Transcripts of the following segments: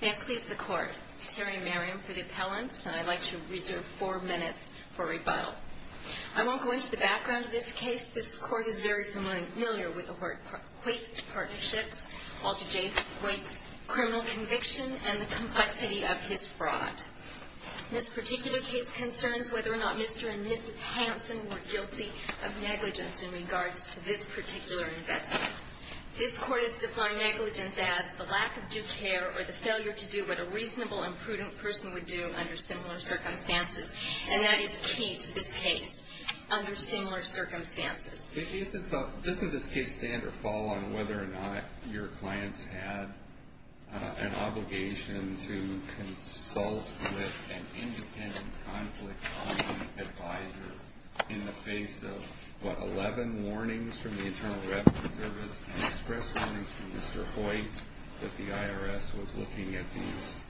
May I please the court. Terry Merriam for the appellants and I'd like to reserve four minutes for rebuttal. I won't go into the background of this case. This court is very familiar with the Hortquist partnerships, Walter J. Hortquist's criminal conviction and the complexity of his fraud. This particular case concerns whether or not Mr. and Mrs. Hansen were guilty of negligence in regards to this particular investment. This court has defined negligence as the lack of due care or the failure to do what a reasonable and prudent person would do under similar circumstances. And that is key to this case, under similar circumstances. It isn't, doesn't this case stand or fall on whether or not your clients had an obligation to consult with an independent conflict-solving advisor in the face of, what, eleven warnings from the Internal Revenue Service and express warnings from Mr. Hoyt that the IRS was looking at these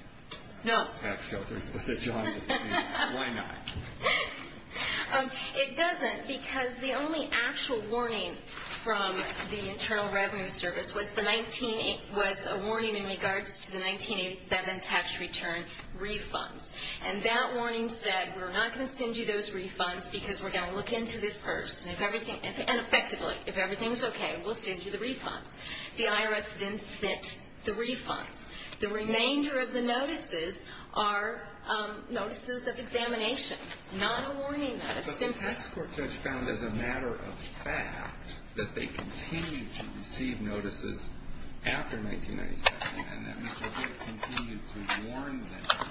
tax shelters with a jaundiced eye? No. Why not? It doesn't, because the only actual warning from the Internal Revenue Service was a warning in regards to the 1980 spending and 1997 tax return refunds. And that warning said, we're not going to send you those refunds because we're going to look into this first. And if everything, and effectively, if everything's okay, we'll send you the refunds. The IRS then sent the refunds. The remainder of the notices are notices of examination, not a warning notice. But the tax court judge found as a matter of fact that they continued to receive notices after 1997, and that Mr. Hoyt continued to warn them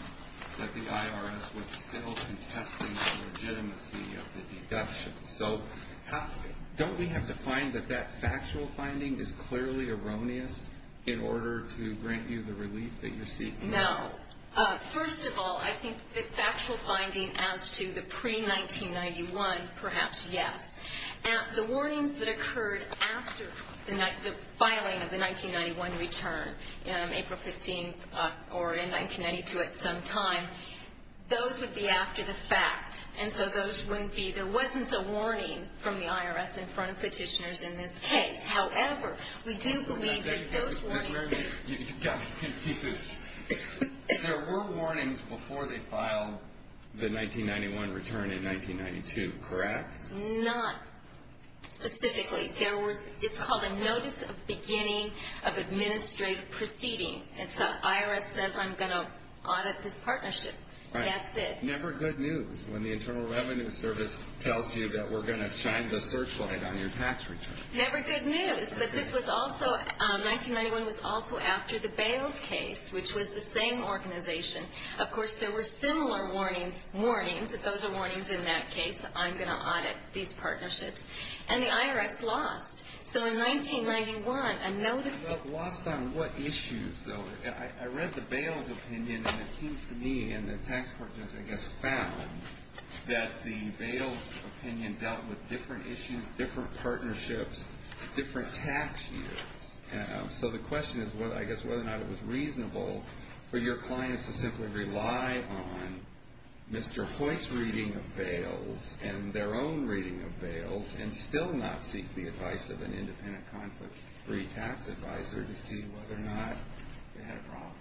that the IRS was still contesting the legitimacy of the deductions. So, don't we have to find that that factual finding is clearly erroneous in order to grant you the relief that you're seeking now? No. First of all, I think the factual finding as to the pre-1991, perhaps, yes. The warnings that occurred after the filing of the 1991 return, April 15th or in 1992 at some time, those would be after the fact. And so those wouldn't be, there wasn't a warning from the IRS in front of petitioners in this case. However, we do believe that those warnings... There were warnings before they filed the 1991 return in 1992, correct? Not specifically. There were, it's called a notice of beginning of administrative proceeding. It's the IRS says, I'm going to audit this partnership. That's it. Never good news when the Internal Revenue Service tells you that we're going to shine the searchlight on your tax return. Never good news. But this was also, 1991 was also after the Bales case, which was the same organization. Of course, there were similar warnings, if those are warnings in that case, I'm going to audit these partnerships. And the IRS lost. So in 1991, a notice... But lost on what issues, though? I read the Bales opinion, and it seems to me, and the tax court just, I guess, found that the Bales opinion dealt with different issues, different partnerships, different tax years. So the question is, I guess, whether or not it was reasonable for your clients to simply rely on Mr. Hoyt's reading of Bales and their own opinion and not seek the advice of an independent conflict-free tax advisor to see whether or not they had a problem.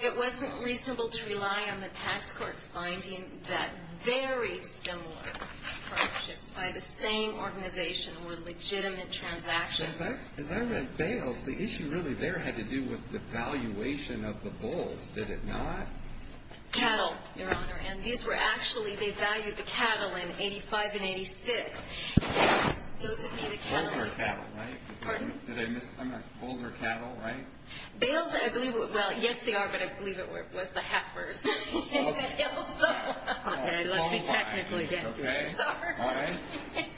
It wasn't reasonable to rely on the tax court finding that very similar partnerships by the same organization were legitimate transactions. As I read Bales, the issue really there had to do with the valuation of the bulls, did it not? Cattle, Your Honor. And these were actually, they valued the cattle in 85 and 86. And those are cattle, right? I'm not, bulls are cattle, right? Bales, I believe, well, yes, they are, but I believe it was the heifers. Okay,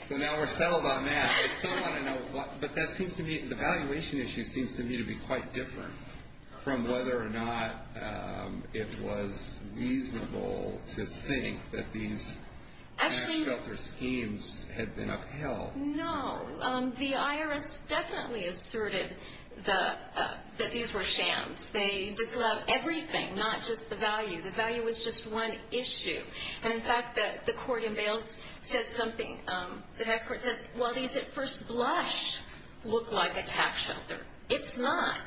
so now we're settled on that. But that seems to me, the valuation issue seems to me to be quite different from whether or not it was reasonable to think that these tax shelter schemes had been upheld. No, the IRS definitely asserted that these were shams. They disallowed everything, not just the value. The value was just one issue. And in fact, the court in Bales said something, the tax court said, well, these at first blush look like a tax shelter. It's not.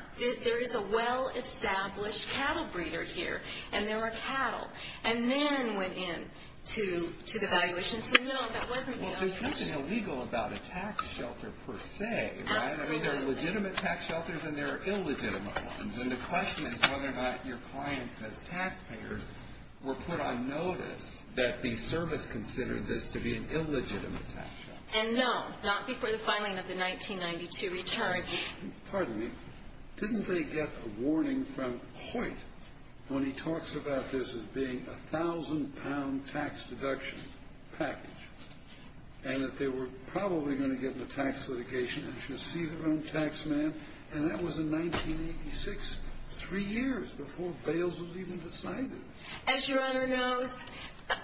There is a well-established cattle breeder here, and there are cattle. And then went in to the valuation. So no, that wasn't the only issue. Well, there's nothing illegal about a tax shelter per se, right? Absolutely. I mean, there are legitimate tax shelters and there are illegitimate ones. And the question is whether or not your clients as taxpayers were put on notice that the service considered this to be an illegitimate tax shelter. And no, not before the filing of the 1992 return. Pardon me. Didn't they get a warning from Hoyt when he talks about this as being a thousand-pound tax deduction package, and that they were probably going to get into tax litigation and should see their own tax man? And that was in 1986, three years before Bales was even decided. As Your Honor knows,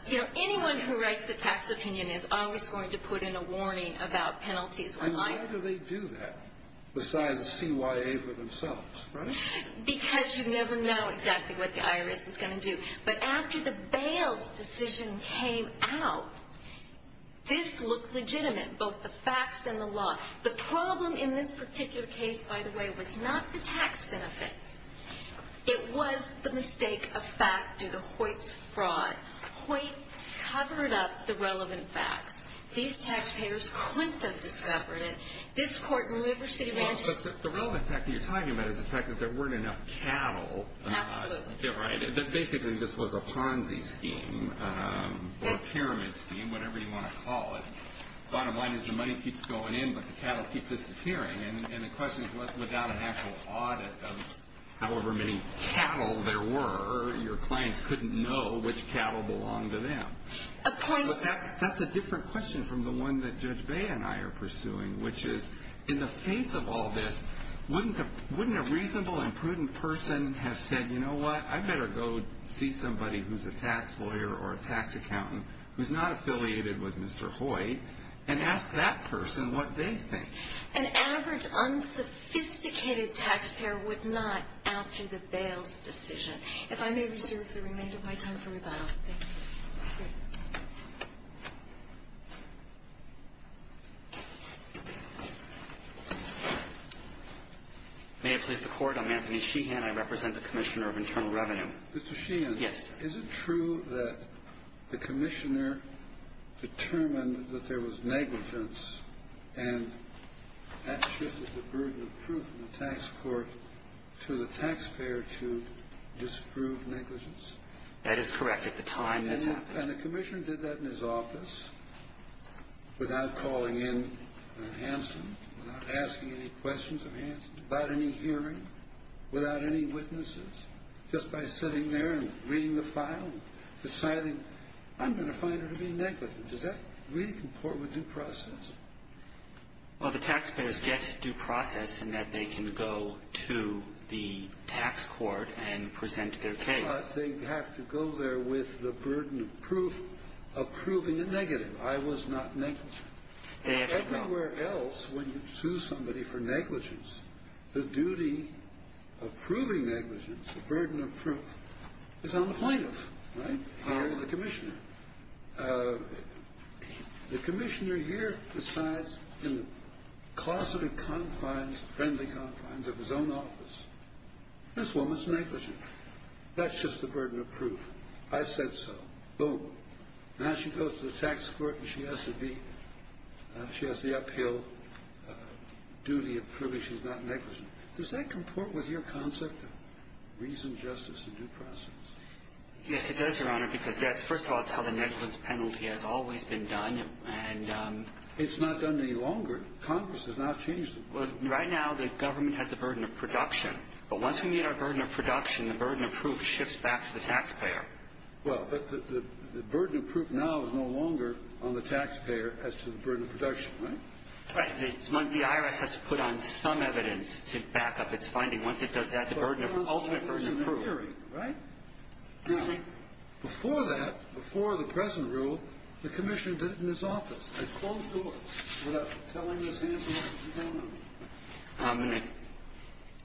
you know, anyone who writes a tax opinion is always going to put in a warning about penalties. And how do they do that besides the CYA for themselves, right? Because you never know exactly what the IRS is going to do. But after the Bales decision came out, this looked legitimate, both the facts and the law. The problem in this particular case, by the way, was not the tax benefits. It was the mistake of fact due to Hoyt's fraud. Hoyt covered up the relevant facts. These taxpayers couldn't have discovered it. This Court removed her city manager. Well, but the relevant fact that you're talking about is the fact that there weren't enough cattle. Absolutely. Yeah, right. Basically, this was a Ponzi scheme or a pyramid scheme, whatever you want to call it. Bottom line is the money keeps going in, but the cattle keep disappearing. And the question is, without an actual audit of however many cattle there were, your clients couldn't know which cattle belonged to them. A point... But that's a different question from the one that Judge Bay and I are pursuing, which is in the face of all this, wouldn't a reasonable and prudent person have said, you know what, I better go see somebody who's a tax lawyer or a tax accountant who's not affiliated with Mr. Hoyt and ask that person what they think? An average, unsophisticated taxpayer would not, after the bail's decision. If I may reserve the remainder of my time for rebuttal. Thank you. Thank you. May I please have the Court? I'm Anthony Sheehan. I represent the Commissioner of Internal Revenue. Mr. Sheehan. Yes, sir. Is it true that the Commissioner determined that there was negligence and that shifted the burden of proof in the tax court to the taxpayer to disprove negligence? That is correct. At the time, this happened. And the Commissioner did that in his office without calling in Hanson, without asking any questions of Hanson, without any hearing, without any witnesses, just by sitting there and reading the file and deciding, I'm going to find her to be negligent. Does that really comport with due process? Well, the taxpayers get due process in that they can go to the tax court and present their case. They have to go there with the burden of proof approving a negative. I was not negligent. Everywhere else, when you sue somebody for negligence, the duty of proving negligence, the burden of proof, is on the plaintiff, not on the Commissioner. The Commissioner here decides in the closeted confines, friendly confines of his own office, this woman's negligent. That's just the burden of proof. I said so. Boom. Now she goes to the tax court and she has to be, she has the uphill duty of proving she's not negligent. Does that comport with your concept of reason, justice, and due process? Yes, it does, Your Honor, because that's, first of all, it's how the negligence penalty has always been done, and… It's not done any longer. Congress has not changed it. Well, right now, the government has the burden of production. But once we meet our burden of production, the burden of proof shifts back to the taxpayer. Well, but the burden of proof now is no longer on the taxpayer as to the burden of production, right? Right. The IRS has to put on some evidence to back up its finding. Once it does that, the burden of ultimate burden of proof… Well, it was in the hearing, right? Excuse me? Before that, before the present rule, the Commissioner did it in his office. They closed the door without telling his hands what was going on.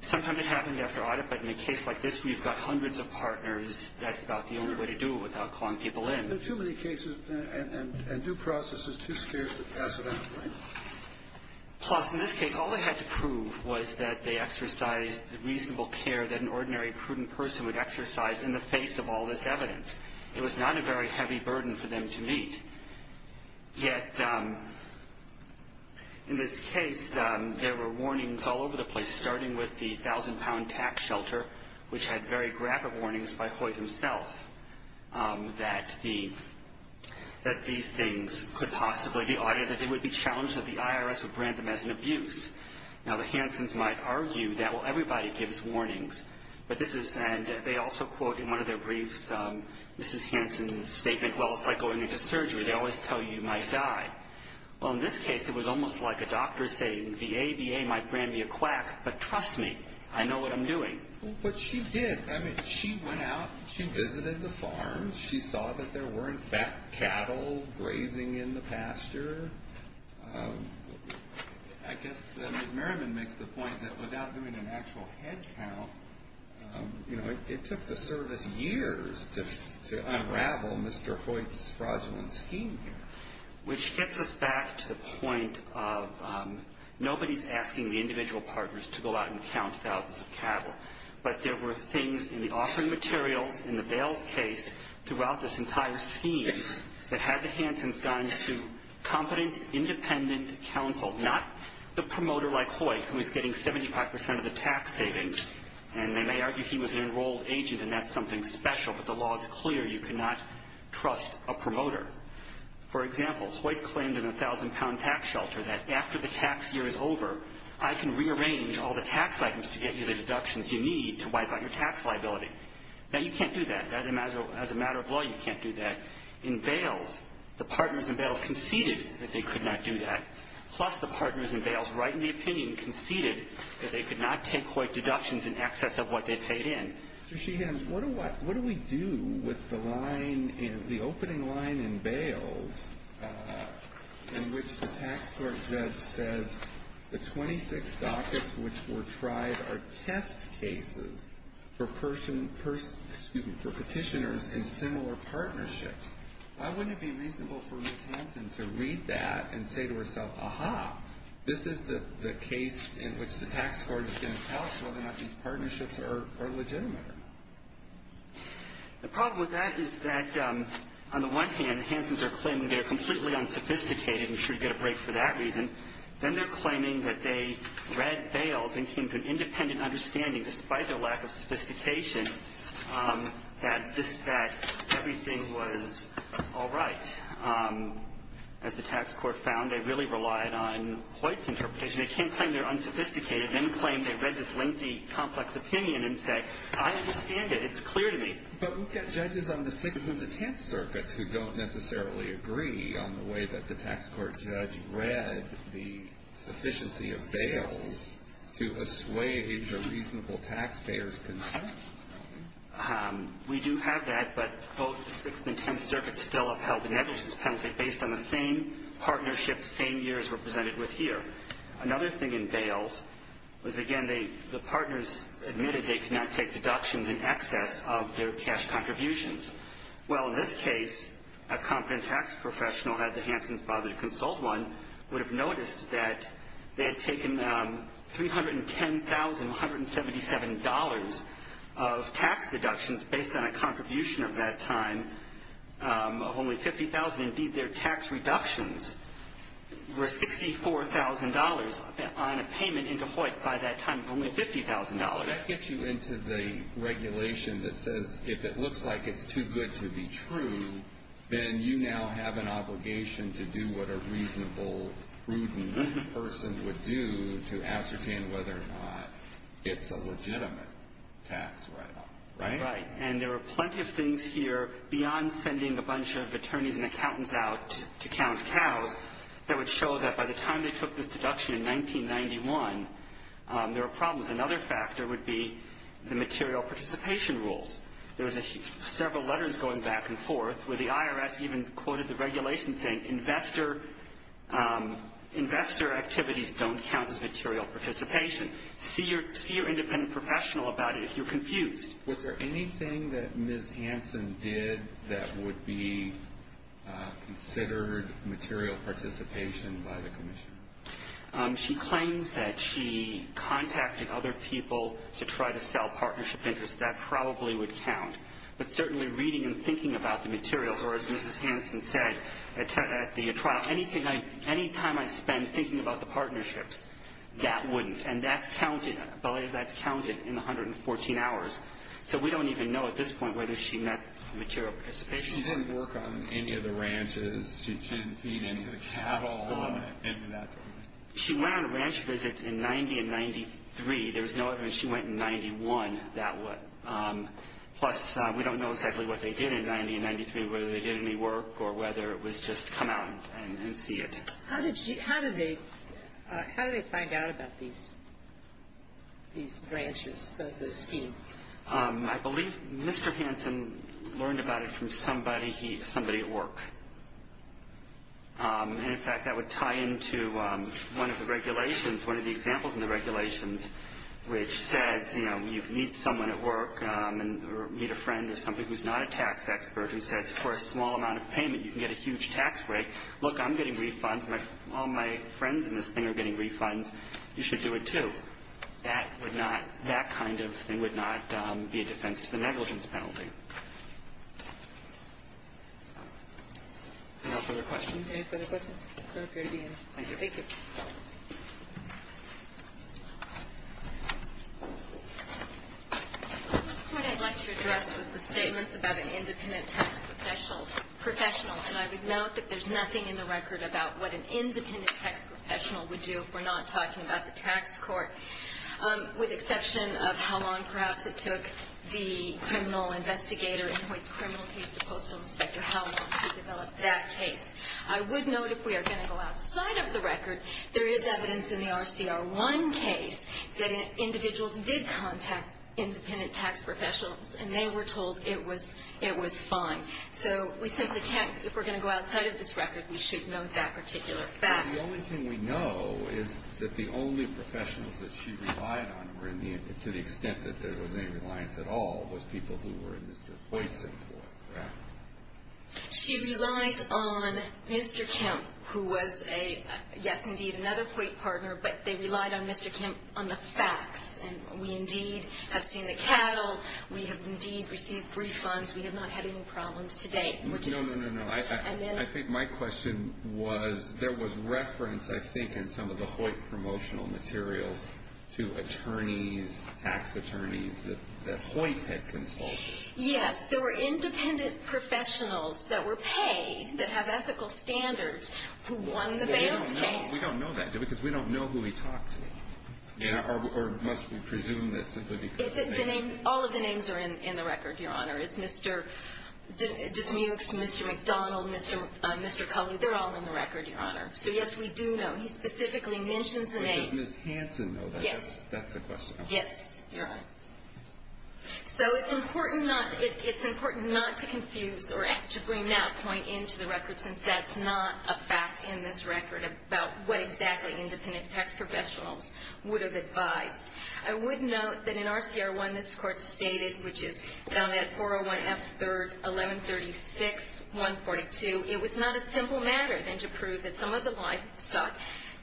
Sometimes it happened after audit, but in a case like this, we've got hundreds of partners. That's about the only way to do it without calling people in. But in too many cases and due process, it's too scarce to pass it on, right? Plus, in this case, all they had to prove was that they exercised the reasonable care that an ordinary, prudent person would exercise in the face of all this evidence. It was not a very heavy burden for them to meet. Yet in this case, there were warnings all over the place, starting with the thousand-pound tax shelter, which had very graphic warnings by Hoyt himself that these things could possibly be audited, that they would be challenged, that the IRS would brand them as an abuse. Now, the Hansons might argue that, well, everybody gives warnings. And they also quote in one of their briefs Mrs. Hanson's statement, well, it's like going into surgery. They always tell you you might die. Well, in this case, it was almost like a doctor saying the ABA might brand me a quack, but trust me, I know what I'm doing. But she did. I mean, she went out. She visited the farms. She saw that there were, in fact, cattle grazing in the pasture. I guess Ms. Merriman makes the point that without doing an actual head count, you know, it took the service years to unravel Mr. Hoyt's fraudulent scheme here. Which gets us back to the point of nobody's asking the individual partners to go out and count thousands of cattle. But there were things in the offering materials, in the bails case, throughout this entire scheme that had the Hansons gone to competent, independent counsel, not the promoter like Hoyt, who was getting 75 percent of the tax savings. And they may argue he was an enrolled agent, and that's something special. But the law is clear. You cannot trust a promoter. For example, Hoyt claimed in the 1,000-pound tax shelter that after the tax year is over, I can rearrange all the tax items to get you the deductions you need to wipe out your tax liability. Now, you can't do that. As a matter of law, you can't do that. In bails, the partners in bails conceded that they could not do that. Plus, the partners in bails, right in the opinion, conceded that they could not take Hoyt deductions in excess of what they paid in. Mr. Sheehan, what do we do with the line, the opening line in bails, in which the tax court judge says the 26 dockets which were tried are test cases for petitioners in similar partnerships? Why wouldn't it be reasonable for Ms. Hanson to read that and say to herself, aha, this is the case in which the tax court is going to tell us whether or not these partnerships are legitimate? The problem with that is that on the one hand, Hansons are claiming they're completely unsophisticated and should get a break for that reason. Then they're claiming that they read bails and came to an independent understanding, despite their lack of sophistication, that this fact, everything was all right. As the tax court found, they really relied on Hoyt's interpretation. They can't claim they're unsophisticated and claim they read this lengthy, complex opinion and say, I understand it. It's clear to me. But we've got judges on the Sixth and the Tenth Circuits who don't necessarily agree on the way that the tax court judge read the sufficiency of bails to assuage a reasonable taxpayer's concern. We do have that, but both the Sixth and Tenth Circuits still upheld the negligence penalty based on the same partnership, same years represented with here. Another thing in bails was, again, the partners admitted they could not take deductions in excess of their cash contributions. Well, in this case, a competent tax professional, had the Hansons bothered to consult one, would have noticed that they had taken $310,177 of tax deductions based on a contribution of that time of only $50,000. Indeed, their tax reductions were $64,000 on a payment into Hoyt by that time of only $50,000. So that gets you into the regulation that says if it looks like it's too good to be true, then you now have an obligation to do what a reasonable, prudent person would do to ascertain whether or not it's a legitimate tax write-off, right? Right. And there are plenty of things here beyond sending a bunch of attorneys and accountants out to count cows that would show that by the time they took this deduction in 1991, there were problems. Another factor would be the material participation rules. There was several letters going back and forth where the IRS even quoted the regulation saying investor activities don't count as material participation. See your independent professional about it if you're confused. Was there anything that Ms. Hansen did that would be considered material participation by the commission? She claims that she contacted other people to try to sell partnership interests. That probably would count. But certainly reading and thinking about the materials, or as Mrs. Hansen said at the trial, any time I spend thinking about the partnerships, that wouldn't. And that's counted in the 114 hours. So we don't even know at this point whether she met material participation. She didn't work on any of the ranches. She didn't feed any of the cattle. She went on ranch visits in 90 and 93. There's no evidence she went in 91. Plus, we don't know exactly what they did in 90 and 93, whether they did any work or whether it was just come out and see it. How did they find out about these branches, the scheme? I believe Mr. Hansen learned about it from somebody at work. And, in fact, that would tie into one of the regulations, one of the examples in the regulations, which says, you know, you meet someone at work or meet a friend or somebody who's not a tax expert who says for a small amount of payment you can get a huge tax break. Look, I'm getting refunds. All my friends in this thing are getting refunds. You should do it, too. That kind of thing would not be a defense to the negligence penalty. Any further questions? Any further questions? Thank you. Thank you. The first point I'd like to address was the statements about an independent tax professional. And I would note that there's nothing in the record about what an independent tax professional would do if we're not talking about the tax court, with exception of how long perhaps it took the criminal investigator in Hoyt's criminal case, the Postal Inspector, how long to develop that case. I would note if we are going to go outside of the record, there is evidence in the RCR1 case that individuals did contact independent tax professionals, and they were told it was fine. So we simply can't, if we're going to go outside of this record, we should note that particular fact. The only thing we know is that the only professionals that she relied on were in the, to the extent that there was any reliance at all, was people who were in Mr. Hoyt's employ, correct? She relied on Mr. Kemp, who was a, yes, indeed, another Hoyt partner, but they relied on Mr. Kemp on the facts. And we indeed have seen the cattle. We have indeed received refunds. We have not had any problems to date. No, no, no, no. I think my question was there was reference, I think, in some of the Hoyt promotional materials to attorneys, tax attorneys that Hoyt had consulted. Yes. There were independent professionals that were paid, that have ethical standards, who won the Bales case. We don't know that, do we? Because we don't know who he talked to. Or must we presume that simply because the name? All of the names are in the record, Your Honor. It's Mr. Dismukes, Mr. McDonald, Mr. Cullen. They're all in the record, Your Honor. So, yes, we do know. He specifically mentions the name. But does Ms. Hansen know that? Yes. That's the question. Yes, Your Honor. So it's important not, it's important not to confuse or to bring that point into the record, since that's not a fact in this record about what exactly independent tax professionals would have advised. I would note that in RCR1, this Court stated, which is found at 401F3-1136-142, it was not a simple matter than to prove that some of the livestock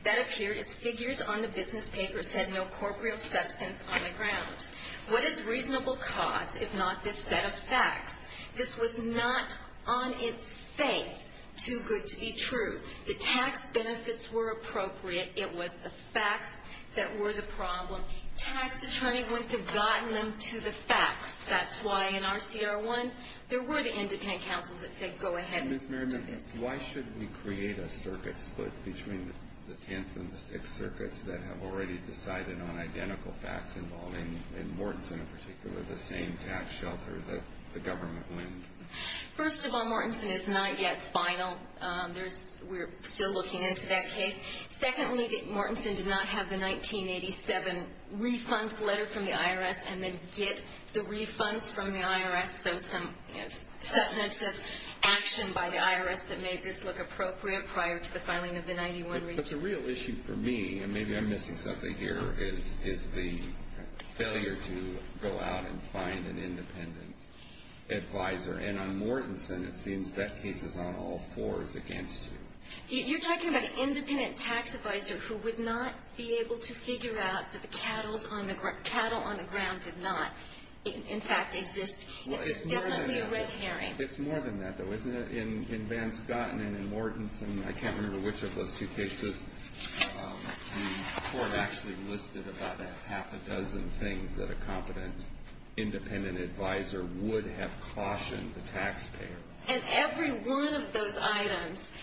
that appeared as figures on the business paper said no corporeal substance on the ground. What is reasonable cause if not this set of facts? This was not on its face too good to be true. The tax benefits were appropriate. It was the facts that were the problem. Tax attorney would have gotten them to the facts. That's why in RCR1, there were the independent counsels that said, go ahead and do this. Ms. Merriman, why should we create a circuit split between the Tenth and the Sixth Circuits that have already decided on identical facts involving, in Mortenson in particular, the same tax shelter that the government wins? First of all, Mortenson is not yet final. We're still looking into that case. Secondly, Mortenson did not have the 1987 refund letter from the IRS and then get the refunds from the IRS, so some substantive action by the IRS that made this look appropriate prior to the filing of the 91- But the real issue for me, and maybe I'm missing something here, is the failure to go out and find an independent advisor. And on Mortenson, it seems that case is on all fours against you. You're talking about an independent tax advisor who would not be able to figure out that the cattle on the ground did not, in fact, exist. It's definitely a red herring. It's more than that, though, isn't it? In Van Scotten and in Mortenson, I can't remember which of those two cases, the court actually listed about a half a dozen things that a competent independent advisor would have cautioned the taxpayer. And every one of those items,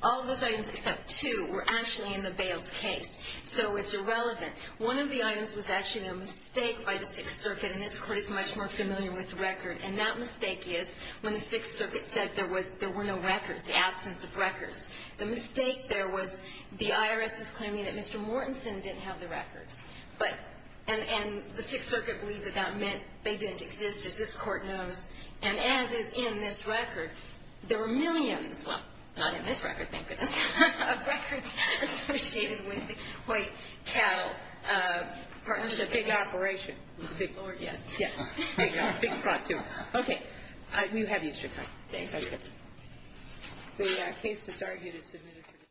all of those items except two, were actually in the Bales case. So it's irrelevant. One of the items was actually a mistake by the Sixth Circuit, and this Court is much more familiar with record. And that mistake is when the Sixth Circuit said there were no records, absence of records. The mistake there was the IRS's claiming that Mr. Mortenson didn't have the records. And the Sixth Circuit believed that that meant they didn't exist, as this Court knows. And as is in this record, there were millions, well, not in this record, thank goodness, of records associated with the White Cattle Partnership. It was a big operation. It was a big operation, yes. Yes. Big plot, too. Okay. You have extra time. Thank you. Okay. The case is argued as submitted for discussion.